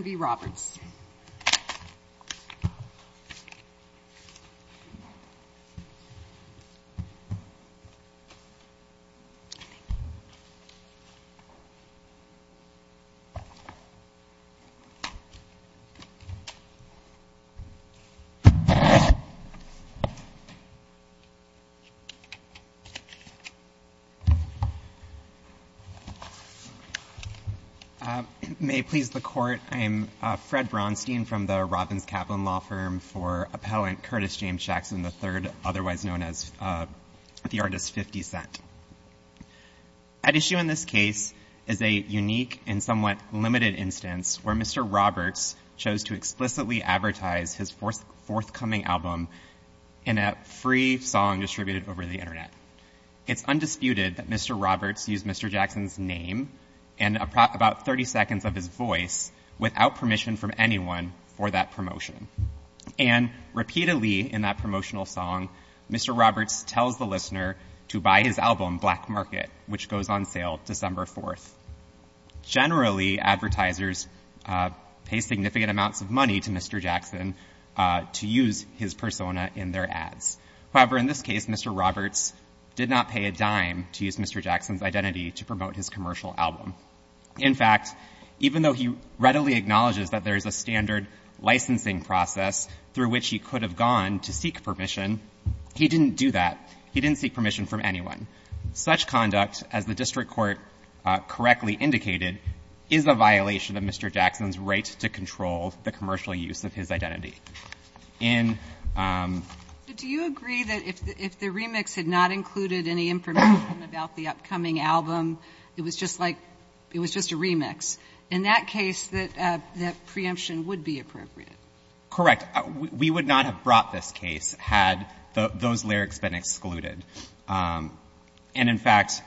v. Roberts. May it please the Court, I am Fred Bronstein from the Robbins-Kaplan Law Firm for Appellant Curtis James Jackson III, otherwise known as the Artist 50 Cent. At issue in this case is a unique and somewhat limited instance where Mr. Roberts chose to explicitly advertise his forthcoming album in a free song distributed over the Internet. It's undisputed that Mr. Roberts used Mr. Jackson's name and about 30 seconds of his voice without permission from anyone for that promotion. And repeatedly in that promotional song, Mr. Roberts tells the listener to buy his album Black Market, which goes on sale December 4th. Generally advertisers pay significant amounts of money to Mr. Jackson to use his persona in their ads. However, in this case, Mr. Roberts did not pay a dime to use Mr. Jackson's identity to promote his commercial album. In fact, even though he readily acknowledges that there is a standard licensing process through which he could have gone to seek permission, he didn't do that. He didn't seek permission from anyone. Such conduct, as the district court correctly indicated, is a violation of Mr. Jackson's right to control the commercial use of his identity. In the case of the upcoming album, it was just like, it was just a remix. In that case, that preemption would be appropriate. Correct. We would not have brought this case had those lyrics been excluded. And in fact,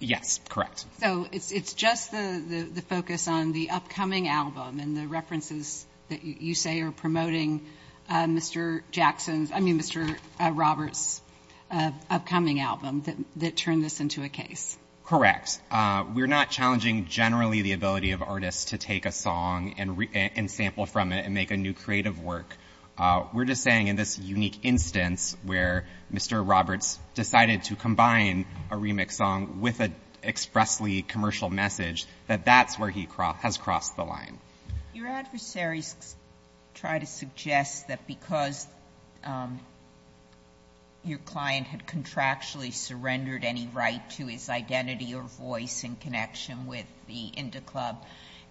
yes, correct. So it's just the focus on the upcoming album and the references that you say are promoting Mr. Jackson's, I mean, Mr. Roberts' upcoming album that turned this into a case. Correct. We're not challenging generally the ability of artists to take a song and sample from it and make a new creative work. We're just saying in this unique instance where Mr. Roberts decided to combine a remix song with an expressly commercial message, that that's where he has crossed the line. Your adversaries try to suggest that because your client had contractually surrendered any right to his identity or voice in connection with the Indy Club,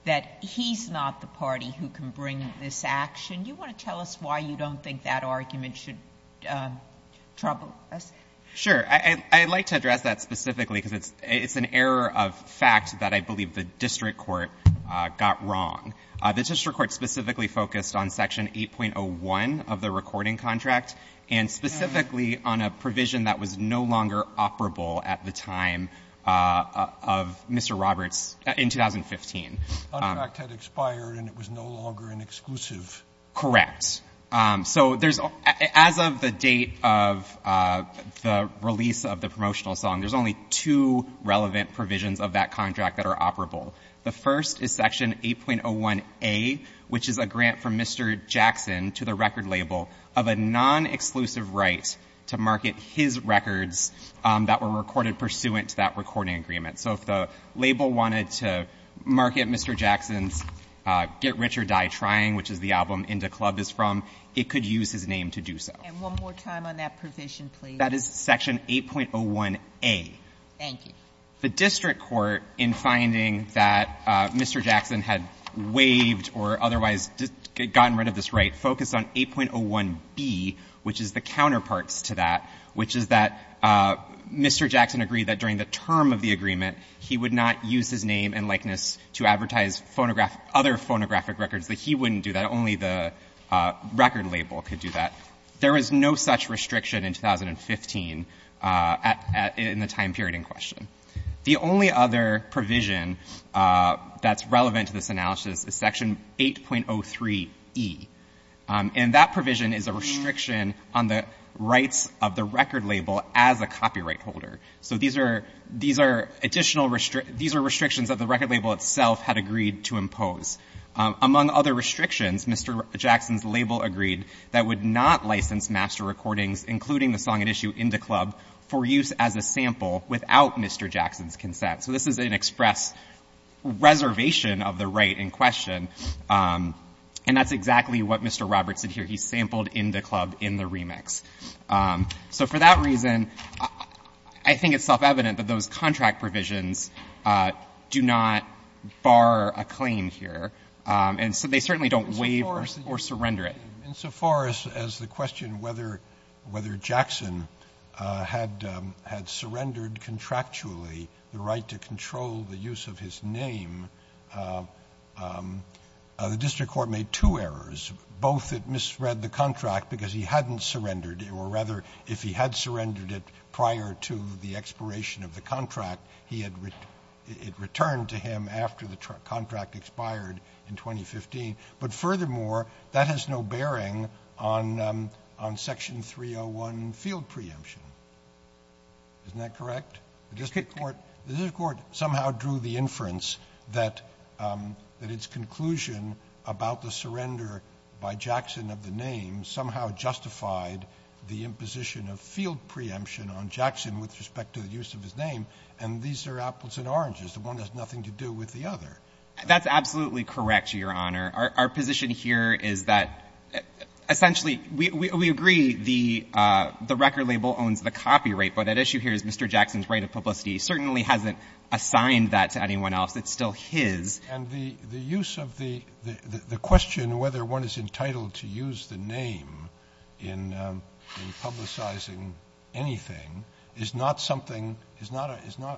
that he's not the party who can bring this action. You want to tell us why you don't think that argument should trouble us? Sure. I'd like to address that specifically because it's an error of fact that I believe the district court got wrong. The district court specifically focused on Section 8.01 of the recording contract and specifically on a provision that was no longer operable at the time of Mr. Roberts in 2015. Contract had expired and it was no longer an exclusive. Correct. So as of the date of the release of the promotional song, there's only two relevant provisions of that contract that are operable. The first is Section 8.01A, which is a grant from Mr. Jackson to the record label of a non-exclusive right to market his records that were recorded pursuant to that recording agreement. So if the label wanted to market Mr. Jackson's Get Rich or Die Trying, which is the album Inda Club is from, it could use his name to do so. And one more time on that provision, please. That is Section 8.01A. Thank you. The district court, in finding that Mr. Jackson had waived or otherwise gotten rid of this right, focused on 8.01B, which is the counterparts to that, which is that Mr. Jackson agreed that during the term of the agreement, he would not use his name and likeness to advertise other phonographic records, that he wouldn't do that. Only the record label could do that. There was no such restriction in 2015 in the time period in question. The only other provision that's relevant to this analysis is Section 8.03E. And that provision is a restriction on the rights of the record label as a copyright holder. So these are additional restrictions that the record label itself had agreed to impose. Among other restrictions, Mr. Jackson's label agreed that it would not license master recordings, including the song at issue, Inda Club, for use as a sample without Mr. Jackson's consent. So this is an express reservation of the right in question. And that's exactly what Mr. Roberts did here. He sampled Inda Club in the remix. So for that reason, I think it's self-evident that those contract provisions do not bar a claim here. And so they certainly don't waive or surrender it. Roberts. Insofar as the question whether Jackson had surrendered contractually the right to control the use of his name, the district court made two errors, both it misread the contract because he hadn't surrendered, or rather if he had surrendered it prior to the expiration of the contract, it returned to him after the contract expired in 2015. But furthermore, that has no bearing on Section 301 field preemption. Isn't that correct? The district court somehow drew the inference that its conclusion about the surrender by Jackson of the name somehow justified the imposition of field preemption on Jackson with respect to the use of his name. And these are apples and oranges. The one has nothing to do with the other. That's absolutely correct, Your Honor. Our position here is that essentially we agree the record label owns the copyright. But at issue here is Mr. Jackson's right of publicity. He certainly hasn't assigned that to anyone else. It's still his. And the use of the question whether one is entitled to use the name in publicizing anything is not something, is not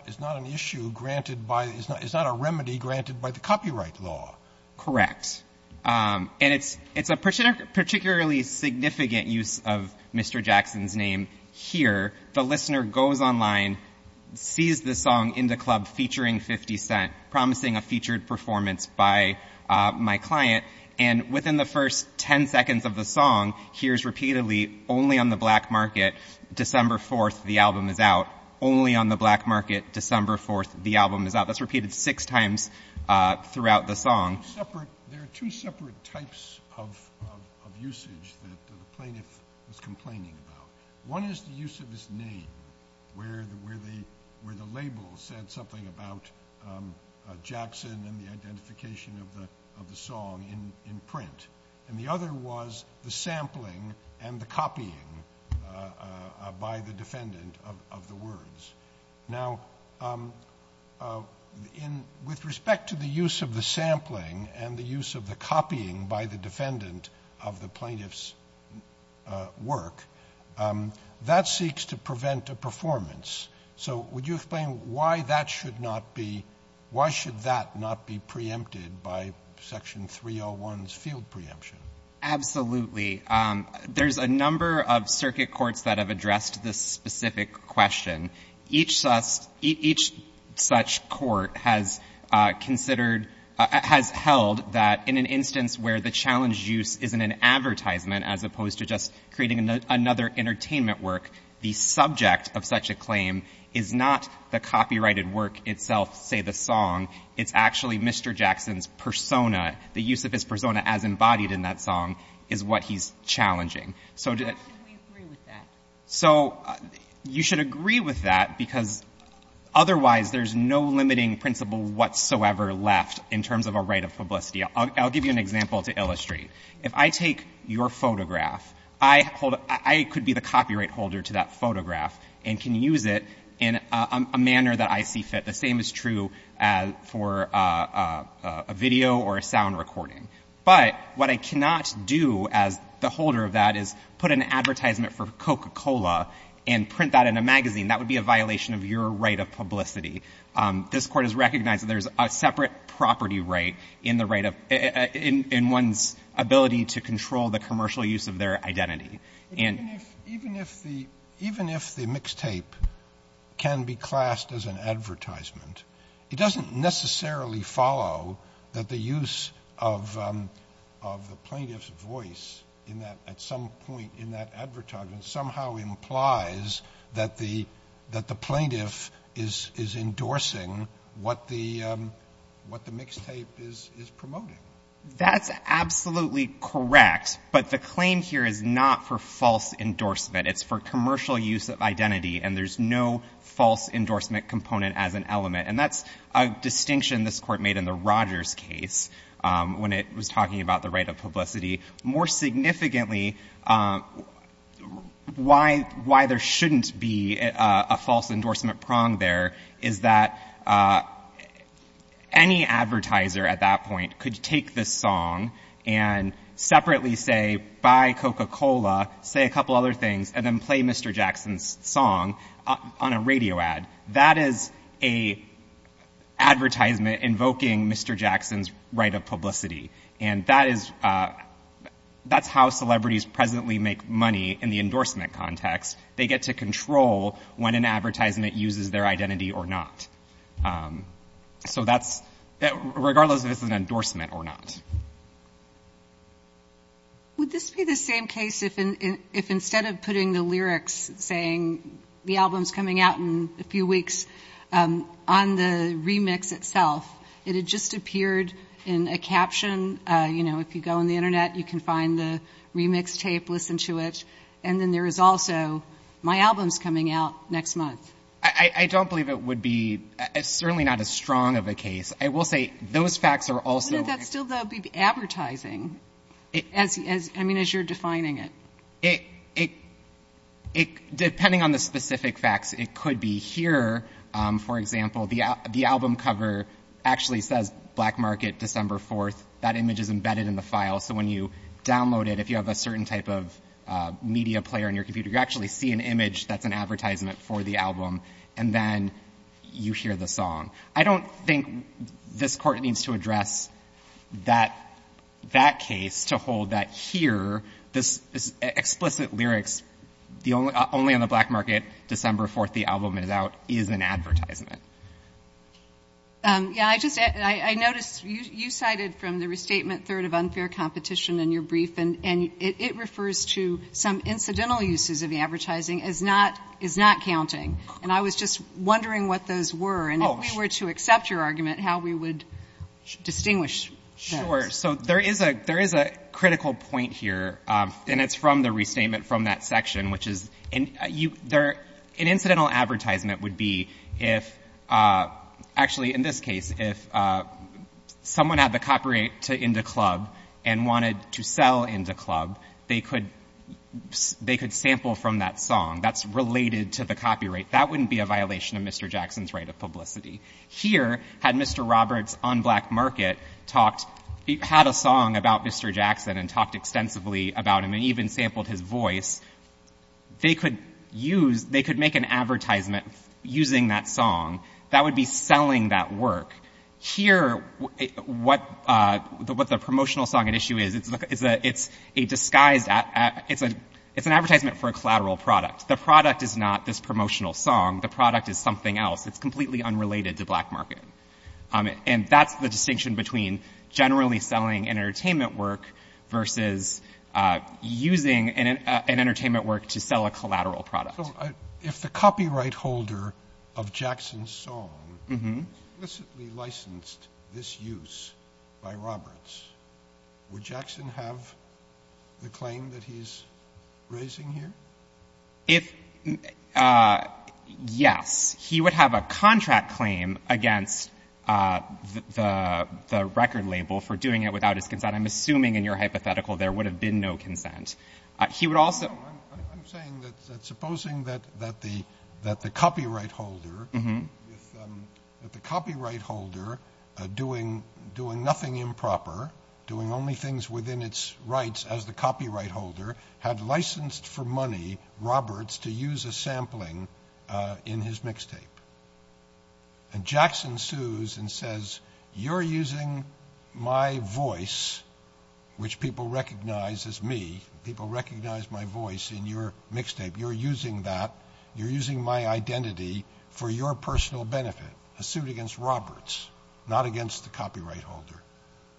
an issue granted by, is not a remedy granted by the copyright law. Correct. And it's a particularly significant use of Mr. Jackson's name here. The listener goes online, sees the song in the club featuring 50 Cent, promising a featured performance by my client. And within the first 10 seconds of the song, hears repeatedly, only on the black market, December 4th, the album is out. Only on the black market, December 4th, the album is out. That's repeated six times throughout the song. There are two separate types of usage that the plaintiff is complaining about. One is the use of his name, where the label said something about Jackson and the identification of the song in print. And the other was the sampling and the copying by the defendant of the words. Now with respect to the use of the sampling and the use of the copying by the defendant of the plaintiff's work, that seeks to prevent a performance. So would you explain why that should not be, why should that not be preempted by Section 301's field preemption? Absolutely. There's a number of circuit courts that have addressed this specific question. Each such court has considered, has held that in an instance where the challenge use is in an advertisement as opposed to just creating another entertainment work, the subject of such a claim is not the copyrighted work itself, say the song. It's actually Mr. Jackson's persona. The use of his persona as embodied in that song is what he's challenging. So do you agree with that? So you should agree with that because otherwise there's no limiting principle whatsoever left in terms of a right of publicity. I'll give you an example to illustrate. If I take your photograph, I could be the copyright holder to that photograph and can use it in a manner that I see fit. The same is true for a video or a sound recording. But what I cannot do as the holder of that is put an advertisement for Coca-Cola and print that in a magazine. That would be a violation of your right of publicity. This court has recognized that there's a separate property right in one's ability to control the commercial use of their identity. Even if the mixtape can be classed as an advertisement, it doesn't necessarily follow that the use of the plaintiff's voice at some point in that advertisement somehow implies that the plaintiff is endorsing what the mixtape is promoting. That's absolutely correct. But the claim here is not for false endorsement. It's for commercial use of identity, and there's no false endorsement component as an element. And that's a distinction this Court made in the Rogers case when it was talking about the right of publicity. More significantly, why there shouldn't be a false endorsement prong there is that any advertiser at that point could take this song and separately say, buy Coca-Cola, say a couple other things, and then play Mr. Jackson's song on a radio ad. That is a advertisement invoking Mr. Jackson's right of publicity. And that's how celebrities presently make money in the endorsement context. They get to control when an advertisement uses their identity or not. So that's regardless if it's an endorsement or not. Would this be the same case if instead of putting the lyrics saying, the album's coming out in a few weeks, on the remix itself, it had just appeared in a caption? If you go on the internet, you can find the remix tape, listen to it. And then there is also, my album's coming out next month. I don't believe it would be, it's certainly not as strong of a case. I will say, those facts are also- Wouldn't that still be advertising, I mean, as you're defining it? Depending on the specific facts, it could be here, for example, the album cover actually says, Black Market, December 4th. That image is embedded in the file, so when you download it, if you have a certain type of media player on your computer, you actually see an image that's an advertisement for the album. And then you hear the song. I don't think this court needs to address that case to hold that here, this explicit lyrics, only on the Black Market, December 4th, the album is out, is an advertisement. Yeah, I noticed you cited from the restatement, Third of Unfair Competition in your brief, and it refers to some incidental uses of the advertising as not counting. And I was just wondering what those were, and if we were to accept your argument, how we would distinguish those. Sure, so there is a critical point here, and it's from the restatement from that section, which is, an incidental advertisement would be if, actually in this case, if someone had the copyright to Indy Club and wanted to sell Indy Club, they could sample from that song that's related to the copyright. That wouldn't be a violation of Mr. Jackson's right of publicity. Here, had Mr. Roberts on Black Market had a song about Mr. Jackson and talked extensively about him and even sampled his voice, they could make an advertisement using that song. That would be selling that work. Here, what the promotional song at issue is, it's an advertisement for a collateral product. The product is not this promotional song. The product is something else. It's completely unrelated to Black Market. And that's the distinction between generally selling an entertainment work versus using an entertainment work to sell a collateral product. If the copyright holder of Jackson's song was licensed, this use by Roberts, would Jackson have the claim that he's raising here? If, yes, he would have a contract claim against the record label for doing it without his consent. And I'm assuming in your hypothetical there would have been no consent. He would also. I'm saying that supposing that the copyright holder, that the copyright holder doing nothing improper, doing only things within its rights as the copyright holder, had licensed for money Roberts to use a sampling in his mixtape. And Jackson sues and says, you're using my voice, which people recognize as me. People recognize my voice in your mixtape. You're using that. You're using my identity for your personal benefit. A suit against Roberts, not against the copyright holder.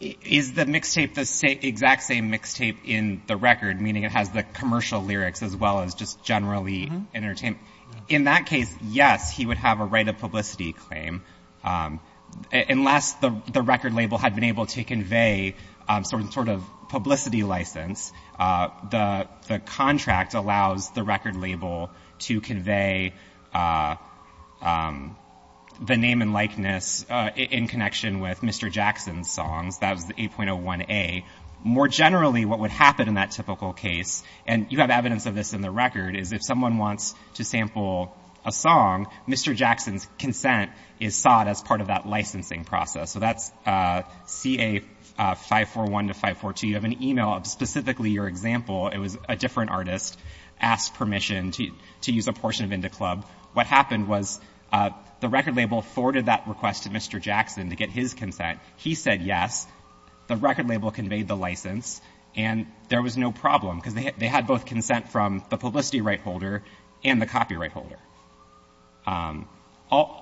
Is the mixtape the exact same mixtape in the record, meaning it has the commercial lyrics as well as just generally entertainment? In that case, yes, he would have a right of publicity claim. Unless the record label had been able to convey some sort of publicity license, the contract allows the record label to convey the name and likeness in connection with Mr. Jackson's songs. That was the 8.01a. More generally, what would happen in that typical case, and you have evidence of this in the record, is if someone wants to sample a song, Mr. Jackson's consent is sought as part of that licensing process. So that's CA 541 to 542. You have an email of specifically your example. It was a different artist asked permission to use a portion of Indy Club. What happened was the record label forwarded that request to Mr. Jackson to get his consent. He said yes. The record label conveyed the license. And there was no problem, because they had both consent from the publicity right holder and the copyright holder. All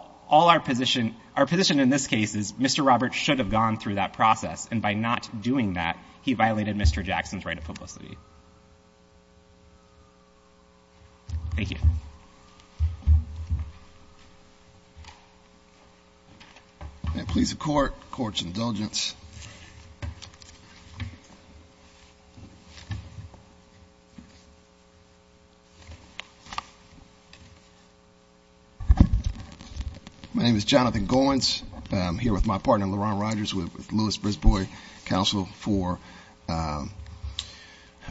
our position, our position in this case is Mr. Roberts should have gone through that process. And by not doing that, he violated Mr. Jackson's right of publicity. Thank you. May it please the court. Court's indulgence. My name is Jonathan Goins. I'm here with my partner, LaRon Rogers, with Lewis-Brisbois Council for the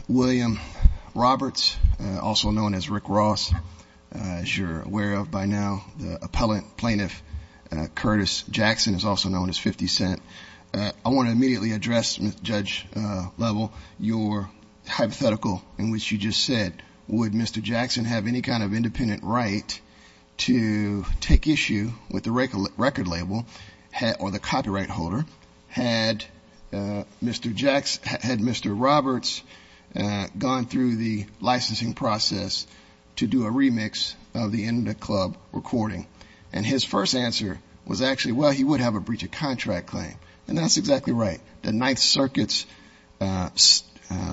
William Roberts, also known as Rick Ross. As you're aware of by now, the appellant plaintiff, Curtis Jackson, is also known as 50 Cent. I want to immediately address, Judge Lovell, your hypothetical in which you just said, would Mr. Jackson have any kind of independent right to take issue with the record label or the copyright holder had Mr. Jackson, had Mr. Roberts gone through the licensing process to do a remix of the Indy Club recording? And his first answer was actually, well, he would have a breach of contract claim. And that's exactly right. The Ninth Circuit's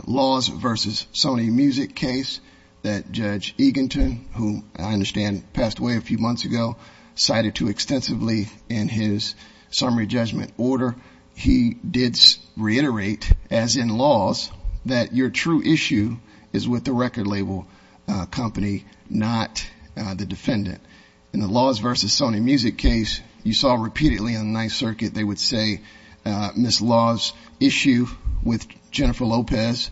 laws versus Sony Music case that Judge Eagleton, who I understand passed away a few months ago, cited too extensively in his summary judgment order. He did reiterate, as in laws, that your true issue is with the record label company, not the defendant. In the laws versus Sony Music case, you saw repeatedly in the Ninth Circuit, they would say Ms. Law's issue with Jennifer Lopez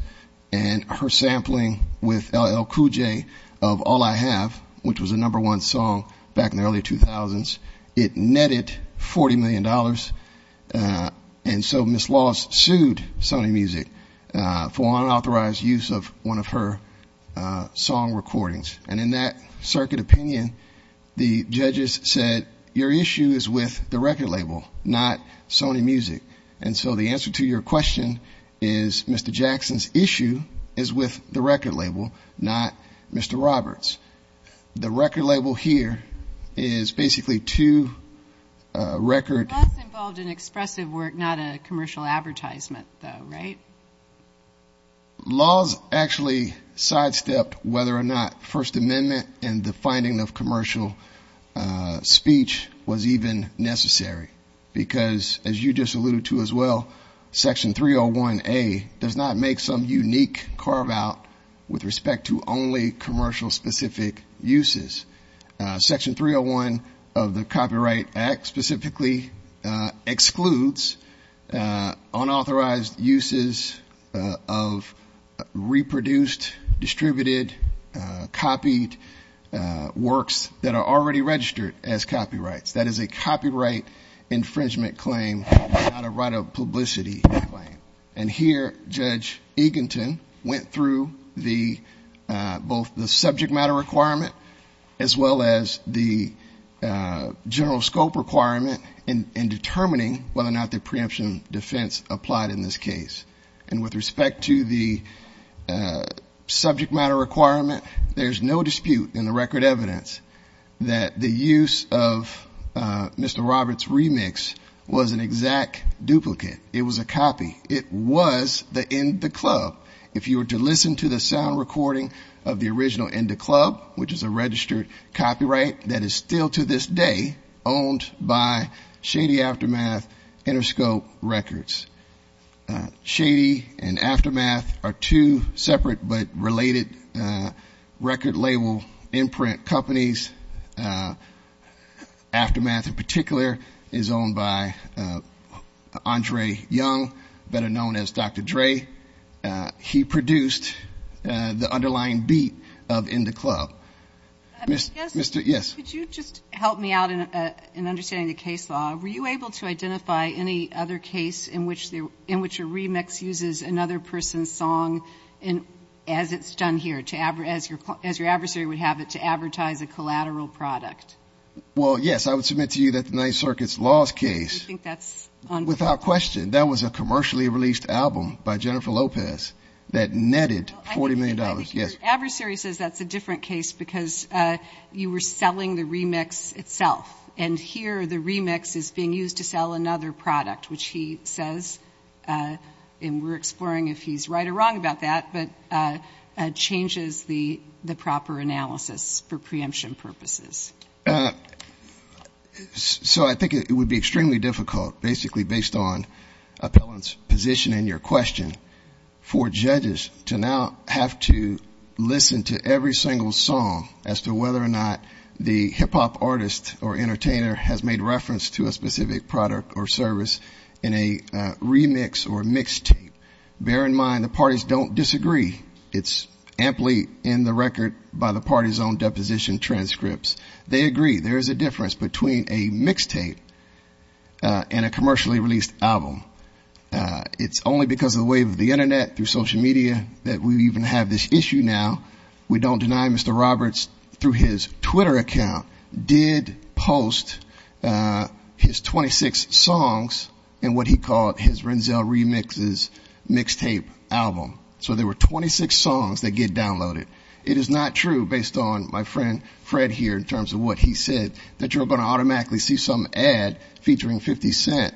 and her sampling with LL Cool J of All I Have, which was the number one song back in the early 2000s. It netted $40 million. And so Ms. Law sued Sony Music for unauthorized use of one of her song recordings. And in that circuit opinion, the judges said your issue is with the record label, not Sony Music. And so the answer to your question is Mr. Jackson's issue is with the record label, not Mr. Roberts. The record label here is basically two record- It was involved in expressive work, not a commercial advertisement though, right? Laws actually sidestepped whether or not First Amendment and the finding of commercial speech was even necessary. Because as you just alluded to as well, Section 301A does not make some unique carve out with respect to only commercial specific uses. Section 301 of the Copyright Act specifically excludes unauthorized uses of reproduced, distributed, copied works that are already registered as copyrights. That is a copyright infringement claim, not a right of publicity claim. And here, Judge Eagleton went through both the subject matter requirement, as well as the general scope requirement in determining whether or not the preemption defense applied in this case. And with respect to the subject matter requirement, there's no dispute in the record evidence that the use of Mr. Roberts' remix was an exact duplicate. It was a copy. It was the In Da Club. If you were to listen to the sound recording of the original In Da Club, which is a registered copyright that is still to this day owned by Shady Aftermath Interscope Records. Shady and Aftermath are two separate but related record label imprint companies. Aftermath in particular is owned by Andre Young, better known as Dr. Dre. He produced the underlying beat of In Da Club. Mr. Yes? Could you just help me out in understanding the case law? Were you able to identify any other case in which a remix uses another person's song as it's done here, as your adversary would have it, to advertise a collateral product? Well, yes. I would submit to you that the Ninth Circuit's Laws case, without question, that was a commercially released album by Jennifer Lopez that netted $40 million, yes. Adversary says that's a different case because you were selling the remix itself. And here, the remix is being used to sell another product, which he says, and we're exploring if he's right or wrong about that, but changes the proper analysis for preemption purposes. So I think it would be extremely difficult, basically based on Appellant's position and your question, for judges to now have to listen to every single song as to whether or not the hip-hop artist or entertainer has made reference to a specific product or service in a remix or mixtape. Bear in mind, the parties don't disagree. It's amply in the record by the party's own deposition transcripts. They agree there is a difference between a mixtape and a commercially released album. It's only because of the wave of the Internet through social media that we even have this issue now. We don't deny Mr. Roberts, through his Twitter account, did post his 26 songs in what he called his Renzel Remixes mixtape album. So there were 26 songs that get downloaded. It is not true, based on my friend Fred here, in terms of what he said, that you're going to automatically see some ad featuring 50 Cent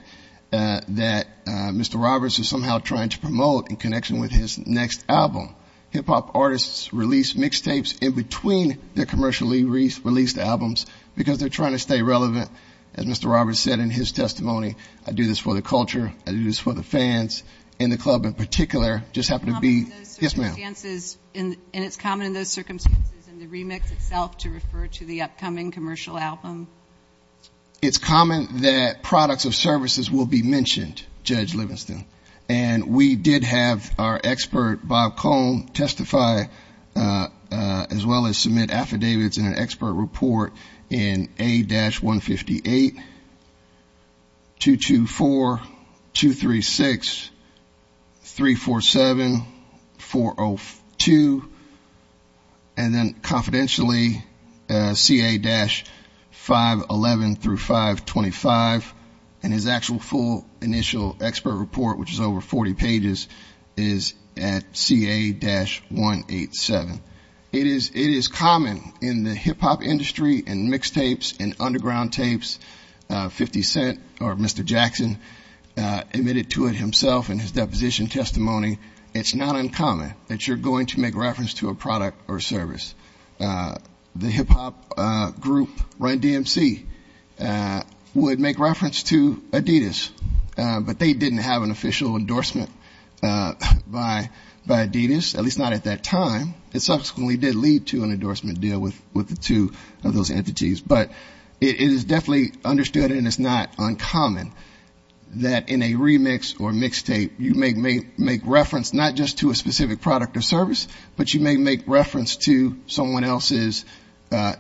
that Mr. Roberts is somehow trying to promote in connection with his next album. Hip-hop artists release mixtapes in between their commercially released albums, because they're trying to stay relevant, as Mr. Roberts said in his testimony. I do this for the culture, I do this for the fans, and the club in particular just happened to be- Yes, ma'am. And it's common in those circumstances in the remix itself to refer to the upcoming commercial album? It's common that products or services will be mentioned, Judge Livingston. And we did have our expert, Bob Cone, testify as well as submit affidavits in an expert report in A-158-224-236-347-402. And then confidentially, CA-511-525, and his actual full initial expert report, which is over 40 pages, is at CA-187. It is common in the hip-hop industry, in mixtapes, in underground tapes, 50 Cent, or Mr. Jackson, admitted to it himself in his deposition testimony. It's not uncommon that you're going to make reference to a product or service. The hip-hop group Run DMC would make reference to Adidas, but they didn't have an official endorsement by Adidas, at least not at that time. It subsequently did lead to an endorsement deal with the two of those entities. But it is definitely understood, and it's not uncommon, that in a remix or mixtape, you may make reference not just to a specific product or service, but you may make reference to someone else's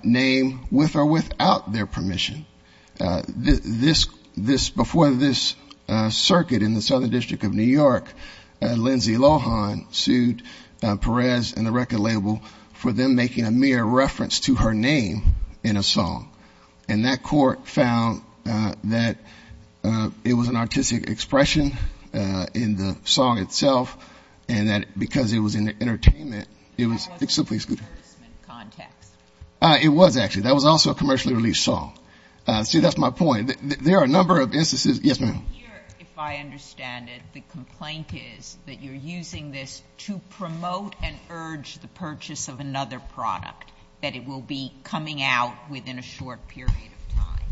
name with or without their permission. Before this circuit in the Southern District of New York, Lindsay Lohan sued Perez and the record label for them making a mere reference to her name in a song. And that court found that it was an artistic expression in the song itself, and that because it was in the entertainment, it was simply- It was actually. That was also a commercially released song. See, that's my point. There are a number of instances. Yes, ma'am. If I understand it, the complaint is that you're using this to promote and urge the purchase of another product, that it will be coming out within a short period of time.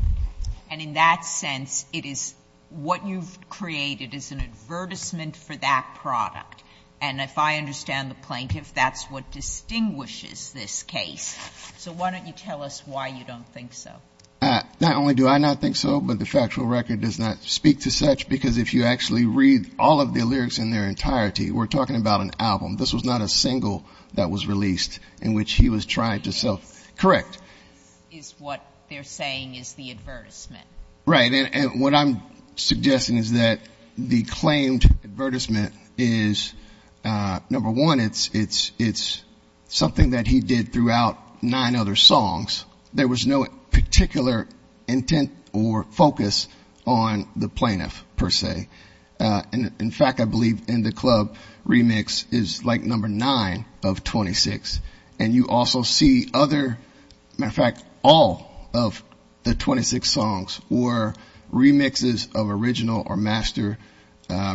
And in that sense, it is what you've created is an advertisement for that product. And if I understand the plaintiff, that's what distinguishes this case. So why don't you tell us why you don't think so? Not only do I not think so, but the factual record does not speak to such, because if you actually read all of the lyrics in their entirety, we're talking about an album. This was not a single that was released in which he was trying to sell. Correct. Is what they're saying is the advertisement. Right, and what I'm suggesting is that the claimed advertisement is, number one, it's something that he did throughout nine other songs. There was no particular intent or focus on the plaintiff, per se. And in fact, I believe in the club, remix is like number nine of 26. And you also see other, matter of fact, all of the 26 songs were remixes of original or master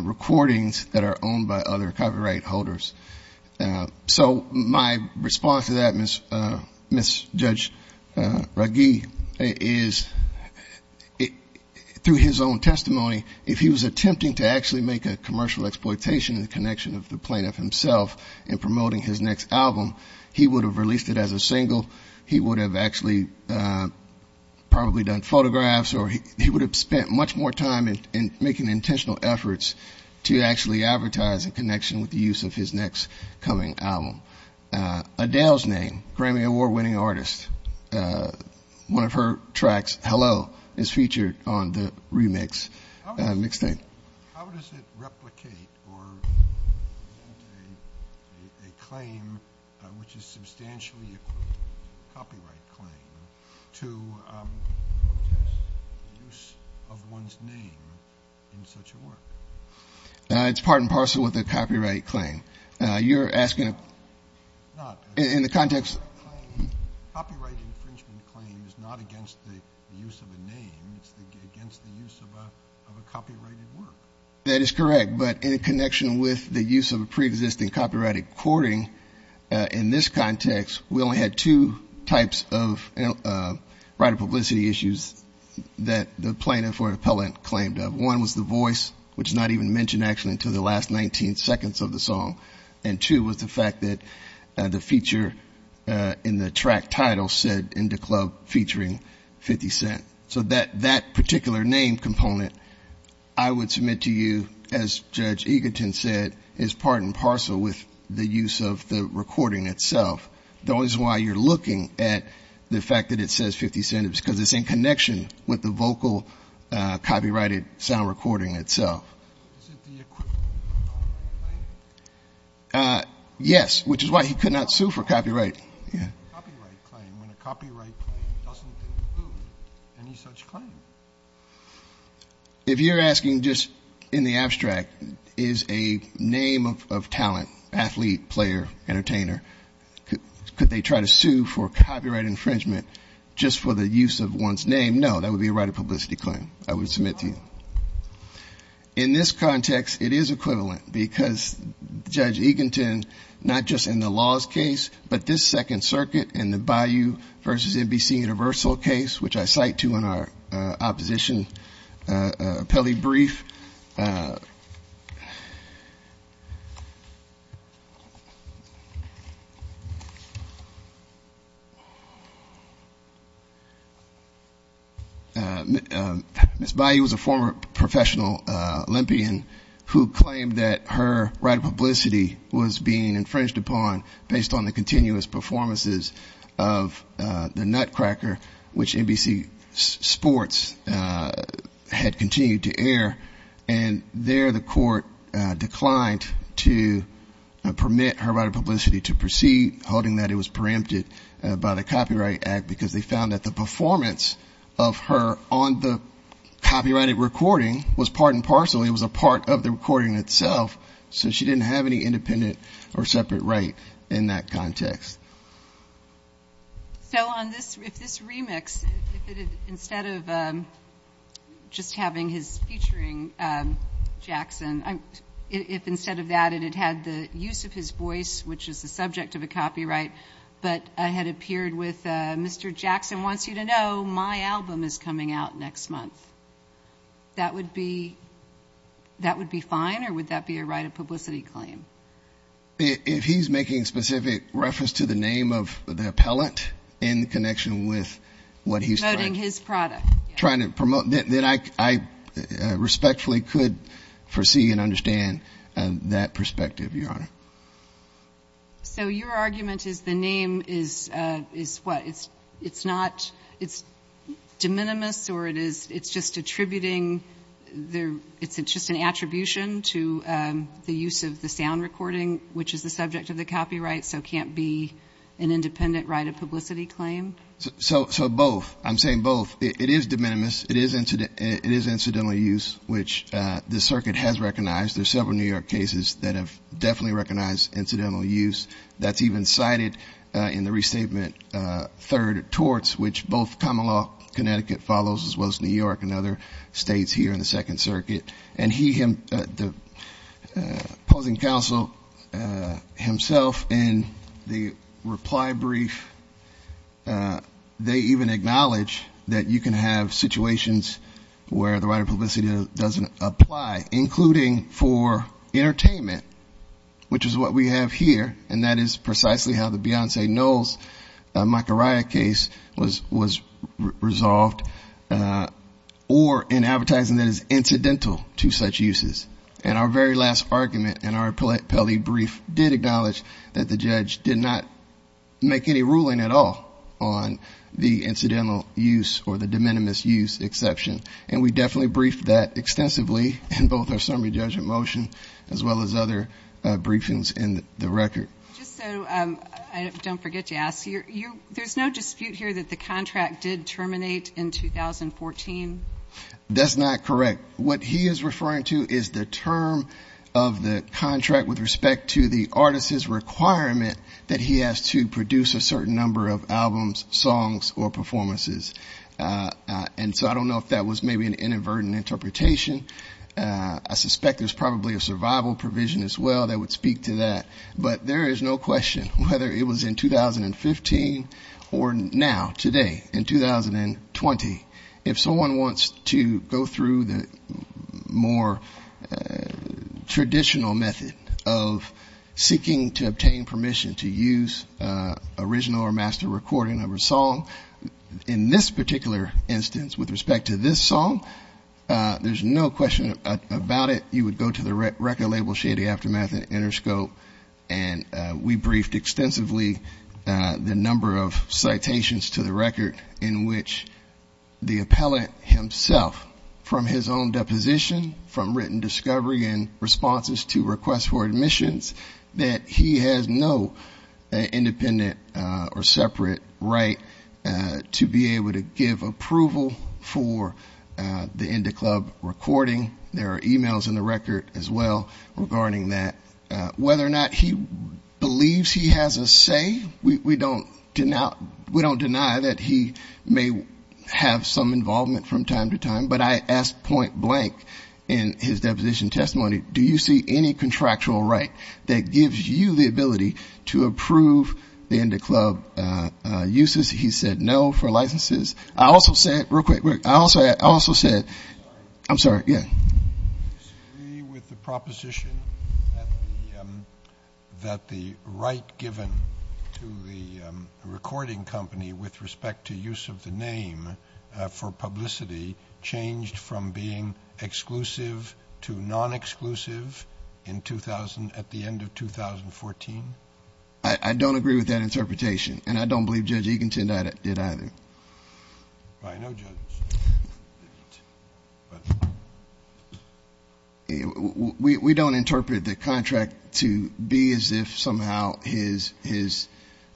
recordings that are owned by other copyright holders. So my response to that, Ms. Judge Raggi, is through his own testimony, if he was attempting to actually make a commercial exploitation in the connection of the plaintiff himself in promoting his next album, he would have released it as a single. He would have actually probably done photographs, or he would have spent much more time in making intentional efforts to actually advertise in connection with the use of his next coming album. Adele's name, Grammy award winning artist, one of her tracks, Hello, is featured on the remix. Next thing. How does it replicate or a claim, which is substantially equivalent to a copyright claim, to the use of one's name in such a work? It's part and parcel with a copyright claim. You're asking, in the context. Copyright infringement claim is not against the use of a name. It's against the use of a copyrighted work. That is correct, but in connection with the use of a pre-existing copyrighted recording in this context, we only had two types of right of publicity issues that the plaintiff or appellant claimed. One was the voice, which is not even mentioned actually until the last 19 seconds of the song. And two was the fact that the feature in the track title said in the club featuring 50 Cent. So that particular name component, I would submit to you, as Judge Eagleton said, is part and parcel with the use of the recording itself. The only reason why you're looking at the fact that it says 50 Cent is because it's in connection with the vocal copyrighted sound recording itself. Is it the equivalent of a copyright claim? Yes, which is why he could not sue for copyright. Right, yeah. Copyright claim, when a copyright claim doesn't include any such claim. If you're asking just in the abstract, is a name of talent, athlete, player, entertainer. Could they try to sue for copyright infringement just for the use of one's name? No, that would be a right of publicity claim, I would submit to you. In this context, it is equivalent because Judge Eagleton, not just in the laws case, but this second circuit in the Bayou versus NBC Universal case, which I cite to in our opposition appellee brief. Ms. Bayou was a former professional olympian who claimed that her right of publicity was being infringed upon based on the continuous performances of the Nutcracker, which NBC Sports had continued to air for a number of years, and there the court declined to permit her right of publicity to proceed, holding that it was preempted by the Copyright Act because they found that the performance of her on the copyrighted recording was part and parcel. It was a part of the recording itself, so she didn't have any independent or separate right in that context. So on this remix, instead of just having his featuring Jackson, if instead of that it had had the use of his voice, which is the subject of a copyright, but I had appeared with, Mr. Jackson wants you to know my album is coming out next month, that would be fine, or would that be a right of publicity claim? If he's making specific reference to the album, to the name of the appellant in connection with what he's trying to promote, then I respectfully could foresee and understand that perspective, Your Honor. So your argument is the name is what? It's not, it's de minimis or it's just attributing, it's just an attribution to the use of the sound recording, which is the subject of the copyright, so can't be an independent right of publicity claim? So both, I'm saying both. It is de minimis, it is incidental use, which the circuit has recognized. There are several New York cases that have definitely recognized incidental use. That's even cited in the restatement third torts, which both common law Connecticut follows as well as New York and other states here in the Second Circuit. And he, the opposing counsel himself in the reply brief, they even acknowledge that you can have situations where the right of publicity doesn't apply, including for entertainment, which is what we have here, and that is precisely how the Beyonce Knowles Macariah case was resolved, or in advertising that is incidental to such uses. And our very last argument in our Pelley brief did acknowledge that the judge did not make any ruling at all on the incidental use or the de minimis use exception. And we definitely briefed that extensively in both our summary judgment motion, as well as other briefings in the record. Just so I don't forget to ask you, there's no dispute here that the contract did terminate in 2014? That's not correct. What he is referring to is the term of the contract with respect to the artist's requirement that he has to produce a certain number of albums, songs, or performances. And so I don't know if that was maybe an inadvertent interpretation. I suspect there's probably a survival provision as well that would speak to that. But there is no question, whether it was in 2015 or now, today, in 2020, if someone wants to go through the more traditional method of seeking to obtain permission to use original or master recording of a song, in this particular instance, with respect to this song, there's no question about it. You would go to the record label Shady Aftermath and Interscope, and we briefed extensively the number of citations to the record, in which the appellant himself, from his own deposition, from written discovery and responses to requests for admissions, that he has no independent or separate right to be able to give approval for the Indy Club recording. There are e-mails in the record as well regarding that. Whether or not he believes he has a say, we don't deny that he may have some involvement from time to time, but I ask point blank in his deposition testimony, do you see any contractual right that gives you the ability to approve the Indy Club uses? He said no for licenses. I also said, real quick, I also said, I'm sorry. Do you agree with the proposition that the right given to the recording company, with respect to use of the name for publicity, changed from being exclusive to non-exclusive at the end of 2014? I don't agree with that interpretation, and I don't believe Judge Eagleton did either. I know Judge Eagleton. We don't interpret the contract to be as if somehow his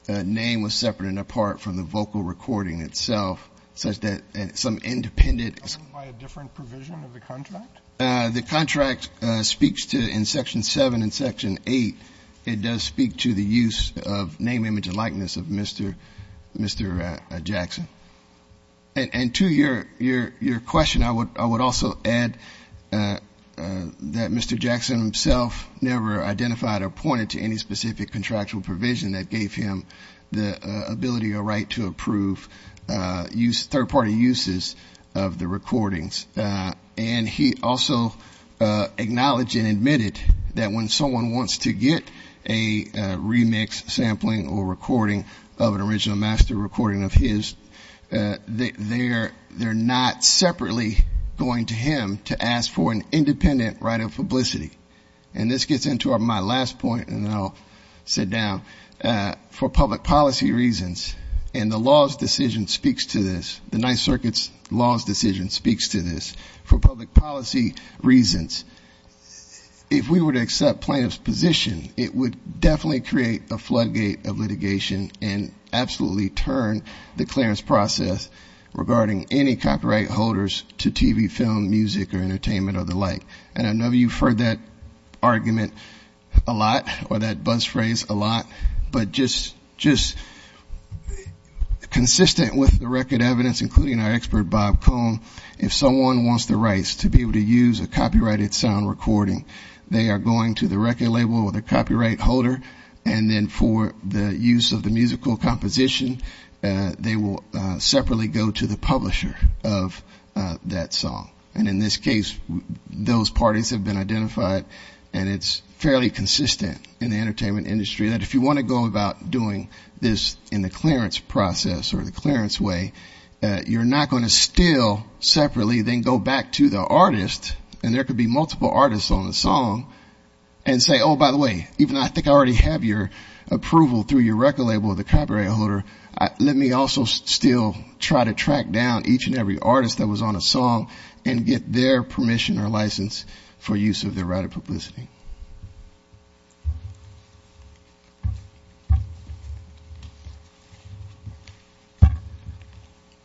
name was separate and apart from the vocal recording itself, such that some independent By a different provision of the contract? The contract speaks to, in Section 7 and Section 8, it does speak to the use of name, image, and likeness of Mr. Jackson. And to your question, I would also add that Mr. Jackson himself never identified or pointed to any specific contractual provision that gave him the ability or right to approve third-party uses of the recordings, and he also acknowledged and admitted that when someone wants to get a remix sampling or recording of an original master recording of his, they're not separately going to him to ask for an independent right of publicity. And this gets into my last point, and then I'll sit down. For public policy reasons, and the law's decision speaks to this, the Ninth Circuit's law's decision speaks to this, for public policy reasons, if we were to accept plaintiff's position, it would definitely create a floodgate of litigation and absolutely turn the clearance process regarding any copyright holders to TV, film, music, or entertainment or the like. And I know you've heard that argument a lot, or that buzz phrase a lot, but just consistent with the record evidence, including our expert, Bob Cohn, if someone wants the rights to be able to use a copyrighted sound recording, they are going to the record label or the copyright holder, and then for the use of the musical composition, they will separately go to the publisher of that song. And in this case, those parties have been identified, and it's fairly consistent in the clearance process or the clearance way. You're not going to still separately then go back to the artist, and there could be multiple artists on the song, and say, oh, by the way, even though I think I already have your approval through your record label or the copyright holder, let me also still try to track down each and every artist that was on a song and get their permission or license for use of their right of publicity.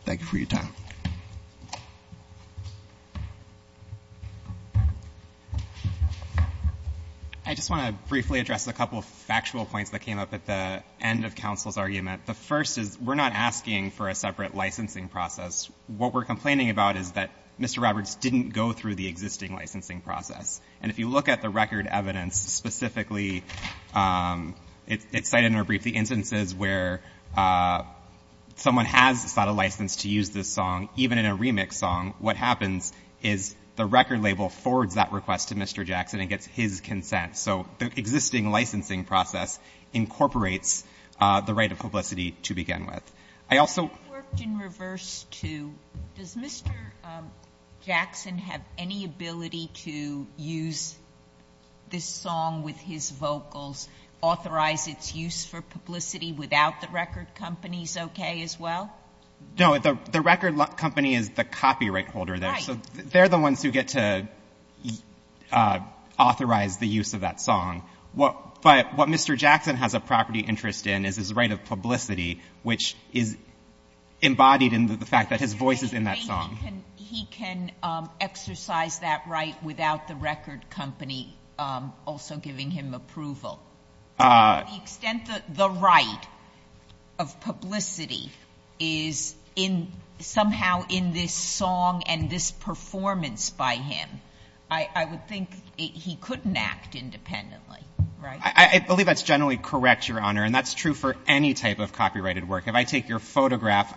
Thank you for your time. I just want to briefly address a couple of factual points that came up at the end of counsel's argument. The first is, we're not asking for a separate licensing process. What we're complaining about is that Mr. Roberts didn't go through the existing licensing process. And if you look at the record evidence specifically, it's cited in a brief, the instances where someone has sought a license to use this song, even in a remix song, what happens is the record label forwards that request to Mr. Jackson and gets his consent. So the existing licensing process incorporates the right of publicity to begin with. I also... Does Mr. Jackson have any ability to use this song with his vocals, authorize its use for publicity without the record company's okay as well? No, the record company is the copyright holder there. So they're the ones who get to authorize the use of that song. But what Mr. Jackson has a property interest in is his right of publicity, which is embodied in the fact that his voice is in that song. He can exercise that right without the record company also giving him approval? To the extent that the right of publicity is somehow in this song and this performance by him, I would think he couldn't act independently, right? I believe that's generally correct, Your Honor. And that's true for any type of copyrighted work. If I take your photograph,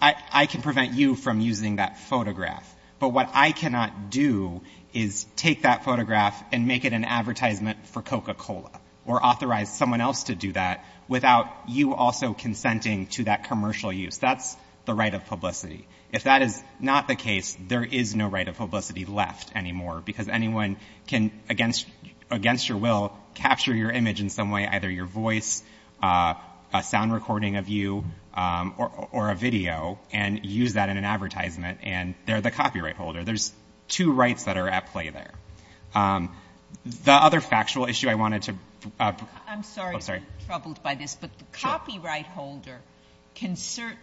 I can prevent you from using that photograph. But what I cannot do is take that photograph and make it an advertisement for Coca-Cola or authorize someone else to do that without you also consenting to that commercial use. That's the right of publicity. If that is not the case, there is no right of publicity left anymore because anyone can, against your will, capture your image in some way, either your voice, a sound recording of you or a video and use that in an advertisement. And they're the copyright holder. There's two rights that are at play there. The other factual issue I wanted to... Sure.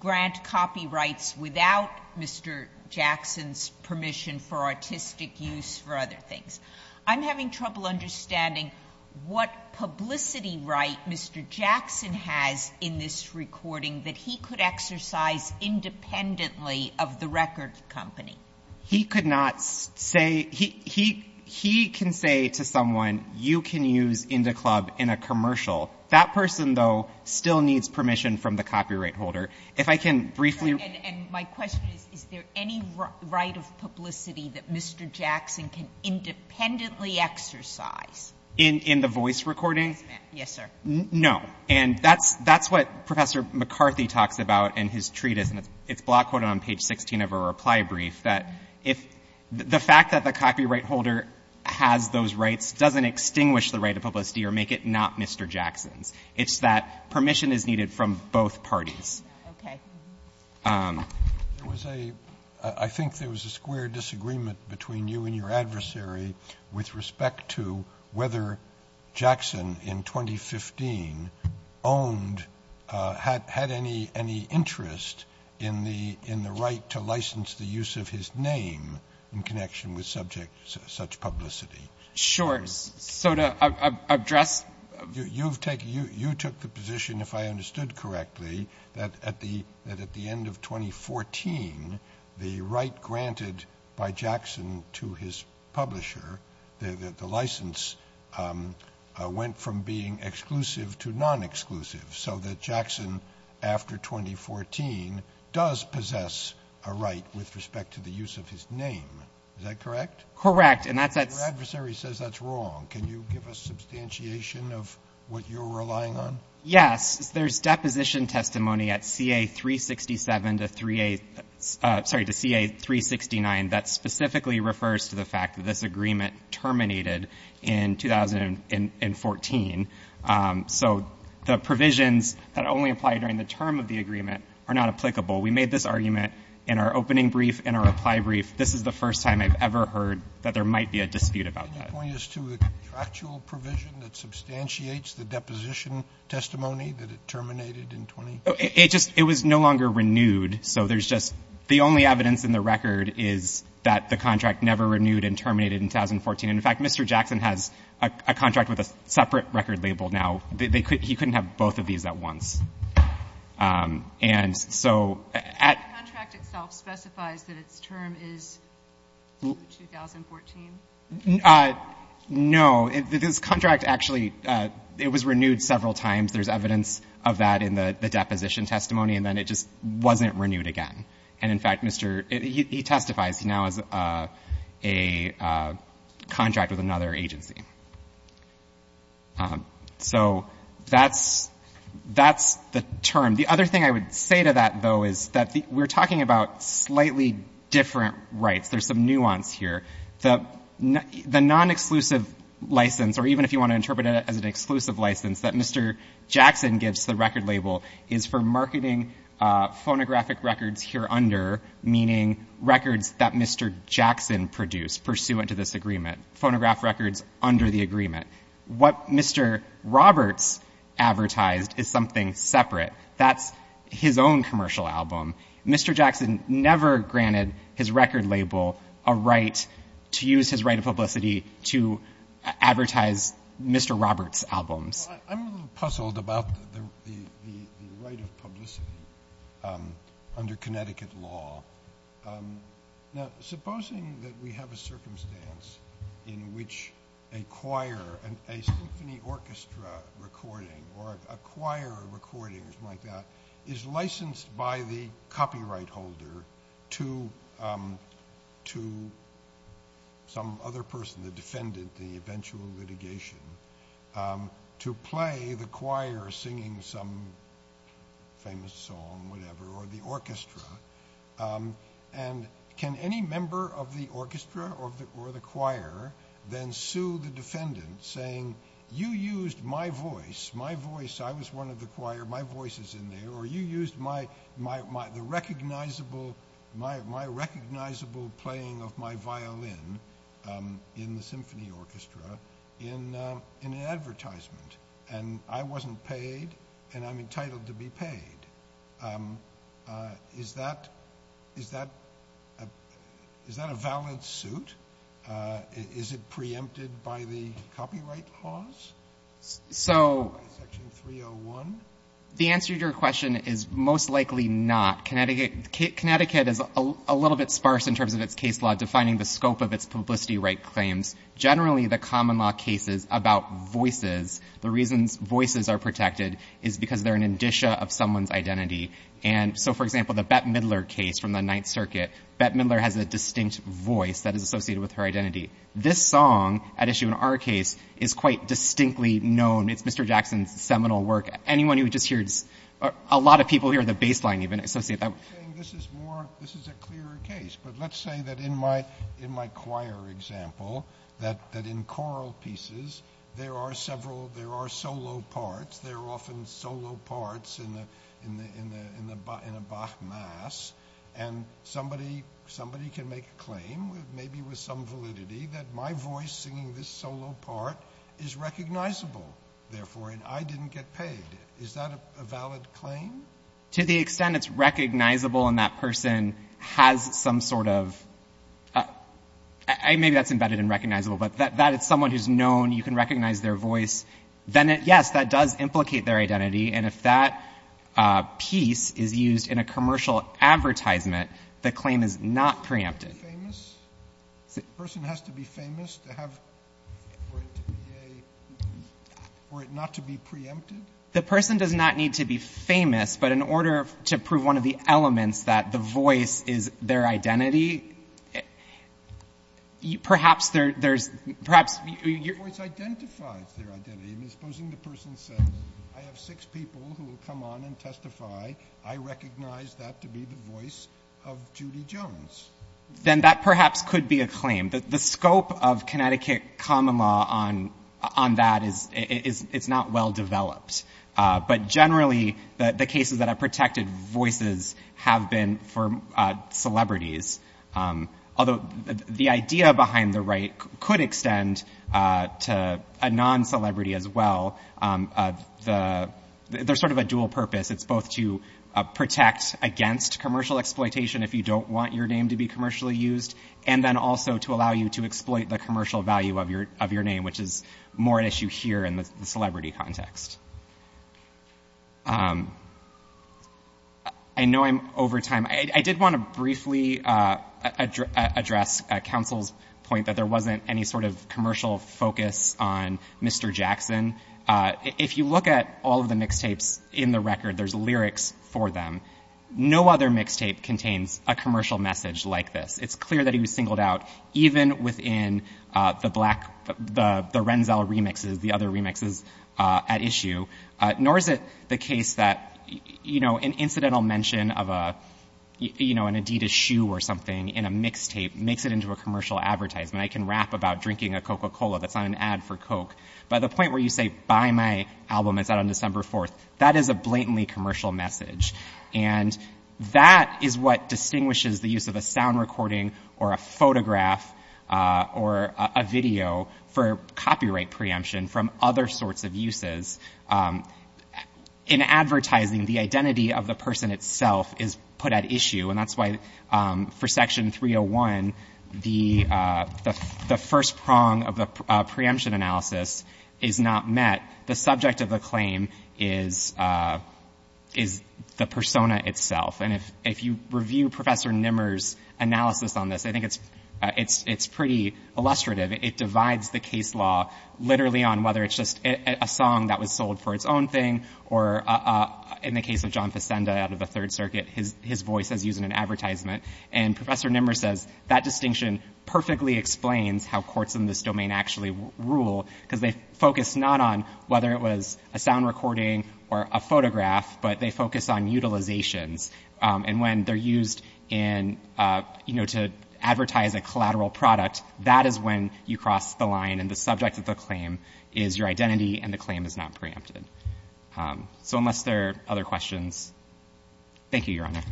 grant copyrights without Mr. Jackson's permission for artistic use for other things. I'm having trouble understanding what publicity right Mr. Jackson has in this recording that he could exercise independently of the record company. He could not say... He can say to someone, you can use Indy Club in a commercial. That person, though, still needs permission from the copyright holder. If I can briefly... And my question is, is there any right of publicity that Mr. Jackson can independently exercise? In the voice recording? Yes, ma'am. Yes, sir. No. And that's what Professor McCarthy talks about in his treatise, and it's block quoted on page 16 of a reply brief, that if the fact that the copyright holder has those rights doesn't extinguish the right of publicity or make it not Mr. Jackson's. It's that permission is needed from both parties. Okay. I think there was a square disagreement between you and your adversary with respect to whether Jackson in 2015 owned, had any interest in the right to license the use of his name in connection with subjects such publicity. Sure. So to address... You took the position, if I understood correctly, that at the end of 2014, the publisher, the license went from being exclusive to non-exclusive, so that Jackson, after 2014, does possess a right with respect to the use of his name. Is that correct? Correct. And that's... Your adversary says that's wrong. Can you give us substantiation of what you're relying on? Yes. There's deposition testimony at CA367 to CA369 that specifically refers to the fact that this agreement terminated in 2014. So the provisions that only apply during the term of the agreement are not applicable. We made this argument in our opening brief and our reply brief. This is the first time I've ever heard that there might be a dispute about that. Can you point us to the actual provision that substantiates the dispute? So there's just... The only evidence in the record is that the contract never renewed and terminated in 2014. In fact, Mr. Jackson has a contract with a separate record label now. He couldn't have both of these at once. And so... The contract itself specifies that its term is 2014? No. This contract actually... It was renewed several times. There's evidence of that in the deposition testimony. And then it just wasn't renewed again. And in fact, Mr. He testifies. He now has a contract with another agency. So that's the term. The other thing I would say to that, though, is that we're talking about slightly different rights. There's some nuance here. The non-exclusive license, or even if you want to interpret it as an exclusive license, that Mr. Jackson gives to the record label is for marketing phonographic records here under, meaning records that Mr. Jackson produced pursuant to this agreement. Phonograph records under the agreement. What Mr. Roberts advertised is something separate. That's his own commercial album. Mr. Jackson never granted his record label a right to use his right of publicity to advertise Mr. Roberts' albums. I'm a little puzzled about the right of publicity under Connecticut law. Supposing that we have a circumstance in which a choir, a symphony orchestra recording or a choir recording or something like that, is licensed by the copyright holder to some other person, the defendant, the eventual litigation, to play the choir singing some famous song, whatever, or the orchestra. And can any member of the orchestra or the choir then sue the defendant saying, you used my voice, I was one of the choir, my voice is in there, or you used my recognizable playing of my violin in the symphony orchestra in an advertisement and I wasn't paid and I'm entitled to be paid. Is that a valid suit? Is it preempted by the copyright laws? Section 301? The answer to your question is most likely not. Connecticut is a little bit sparse in terms of its case law defining the scope of its publicity right claims. Generally the common law cases about voices, the reasons voices are protected is because they're an indicia of someone's identity. So for example, the Bette Midler case from the Ninth Circuit, Bette Midler has a distinct voice that is associated with her identity. This song, at issue in our case, is quite distinctly known. It's Mr. Jackson's seminal work. Anyone who just hears, a lot of people hear the bass line even associate that. This is a clearer case, but let's say that in my there are solo parts, there are often solo parts in a Bach mass and somebody can make a claim, maybe with some validity, that my voice singing this solo part is recognizable therefore and I didn't get paid. Is that a valid claim? To the extent it's recognizable and that person has some sort of maybe that's embedded in recognizable, but that is someone who's known, you can recognize their voice, then yes, that does implicate their identity and if that piece is used in a commercial advertisement, the claim is not preempted. The person has to be famous to have, for it to be a for it not to be preempted? The person does not need to be famous, but in order to prove one of the elements that the voice is their identity, perhaps there's, perhaps... Suppose the person says, I have six people who will come on and testify, I recognize that to be the voice of Judy Jones. Then that perhaps could be a claim. The scope of Connecticut common law on that is not well developed, but generally the cases that have protected voices have been for celebrities, although the idea behind the right could extend to a non-celebrity as well. There's sort of a dual purpose, it's both to protect against commercial exploitation if you don't want your name to be commercially used and then also to allow you to exploit the commercial value of your name, which is more an issue here in the celebrity context. I know I'm over time. I did want to briefly address counsel's point that there wasn't any sort of commercial focus on Mr. Jackson. If you look at all of the mixtapes in the record, there's lyrics for them. No other mixtape contains a commercial message like this. It's clear that he was singled out even within the Renzel remixes, the other remixes at issue, nor is it the case that an incidental mention of an Adidas shoe or something in a mixtape makes it into a commercial advertisement. I can rap about drinking a Coca-Cola that's on an ad for Coke, but the point where you say buy my album, it's out on December 4th, that is a blatantly commercial message. And that is what distinguishes the use of a sound recording or a photograph or a video for copyright preemption from other sorts of uses. In advertising, the identity of the person itself is put at issue, and that's why for Section 301, the subject of the claim is the persona itself. And if you review Professor Nimmer's analysis on this, I think it's pretty illustrative. It divides the case law literally on whether it's just a song that was sold for its own thing, or in the case of John Facenda out of the Third Circuit, his voice is used in an advertisement. And Professor Nimmer says that distinction perfectly explains how courts in this domain actually rule, because they focus not on whether it was a sound recording or a photograph, but they focus on utilizations. And when they're used in, you know, to advertise a collateral product, that is when you cross the line and the subject of the claim is your identity and the claim is not preempted. So unless there are other questions, thank you, Your Honor.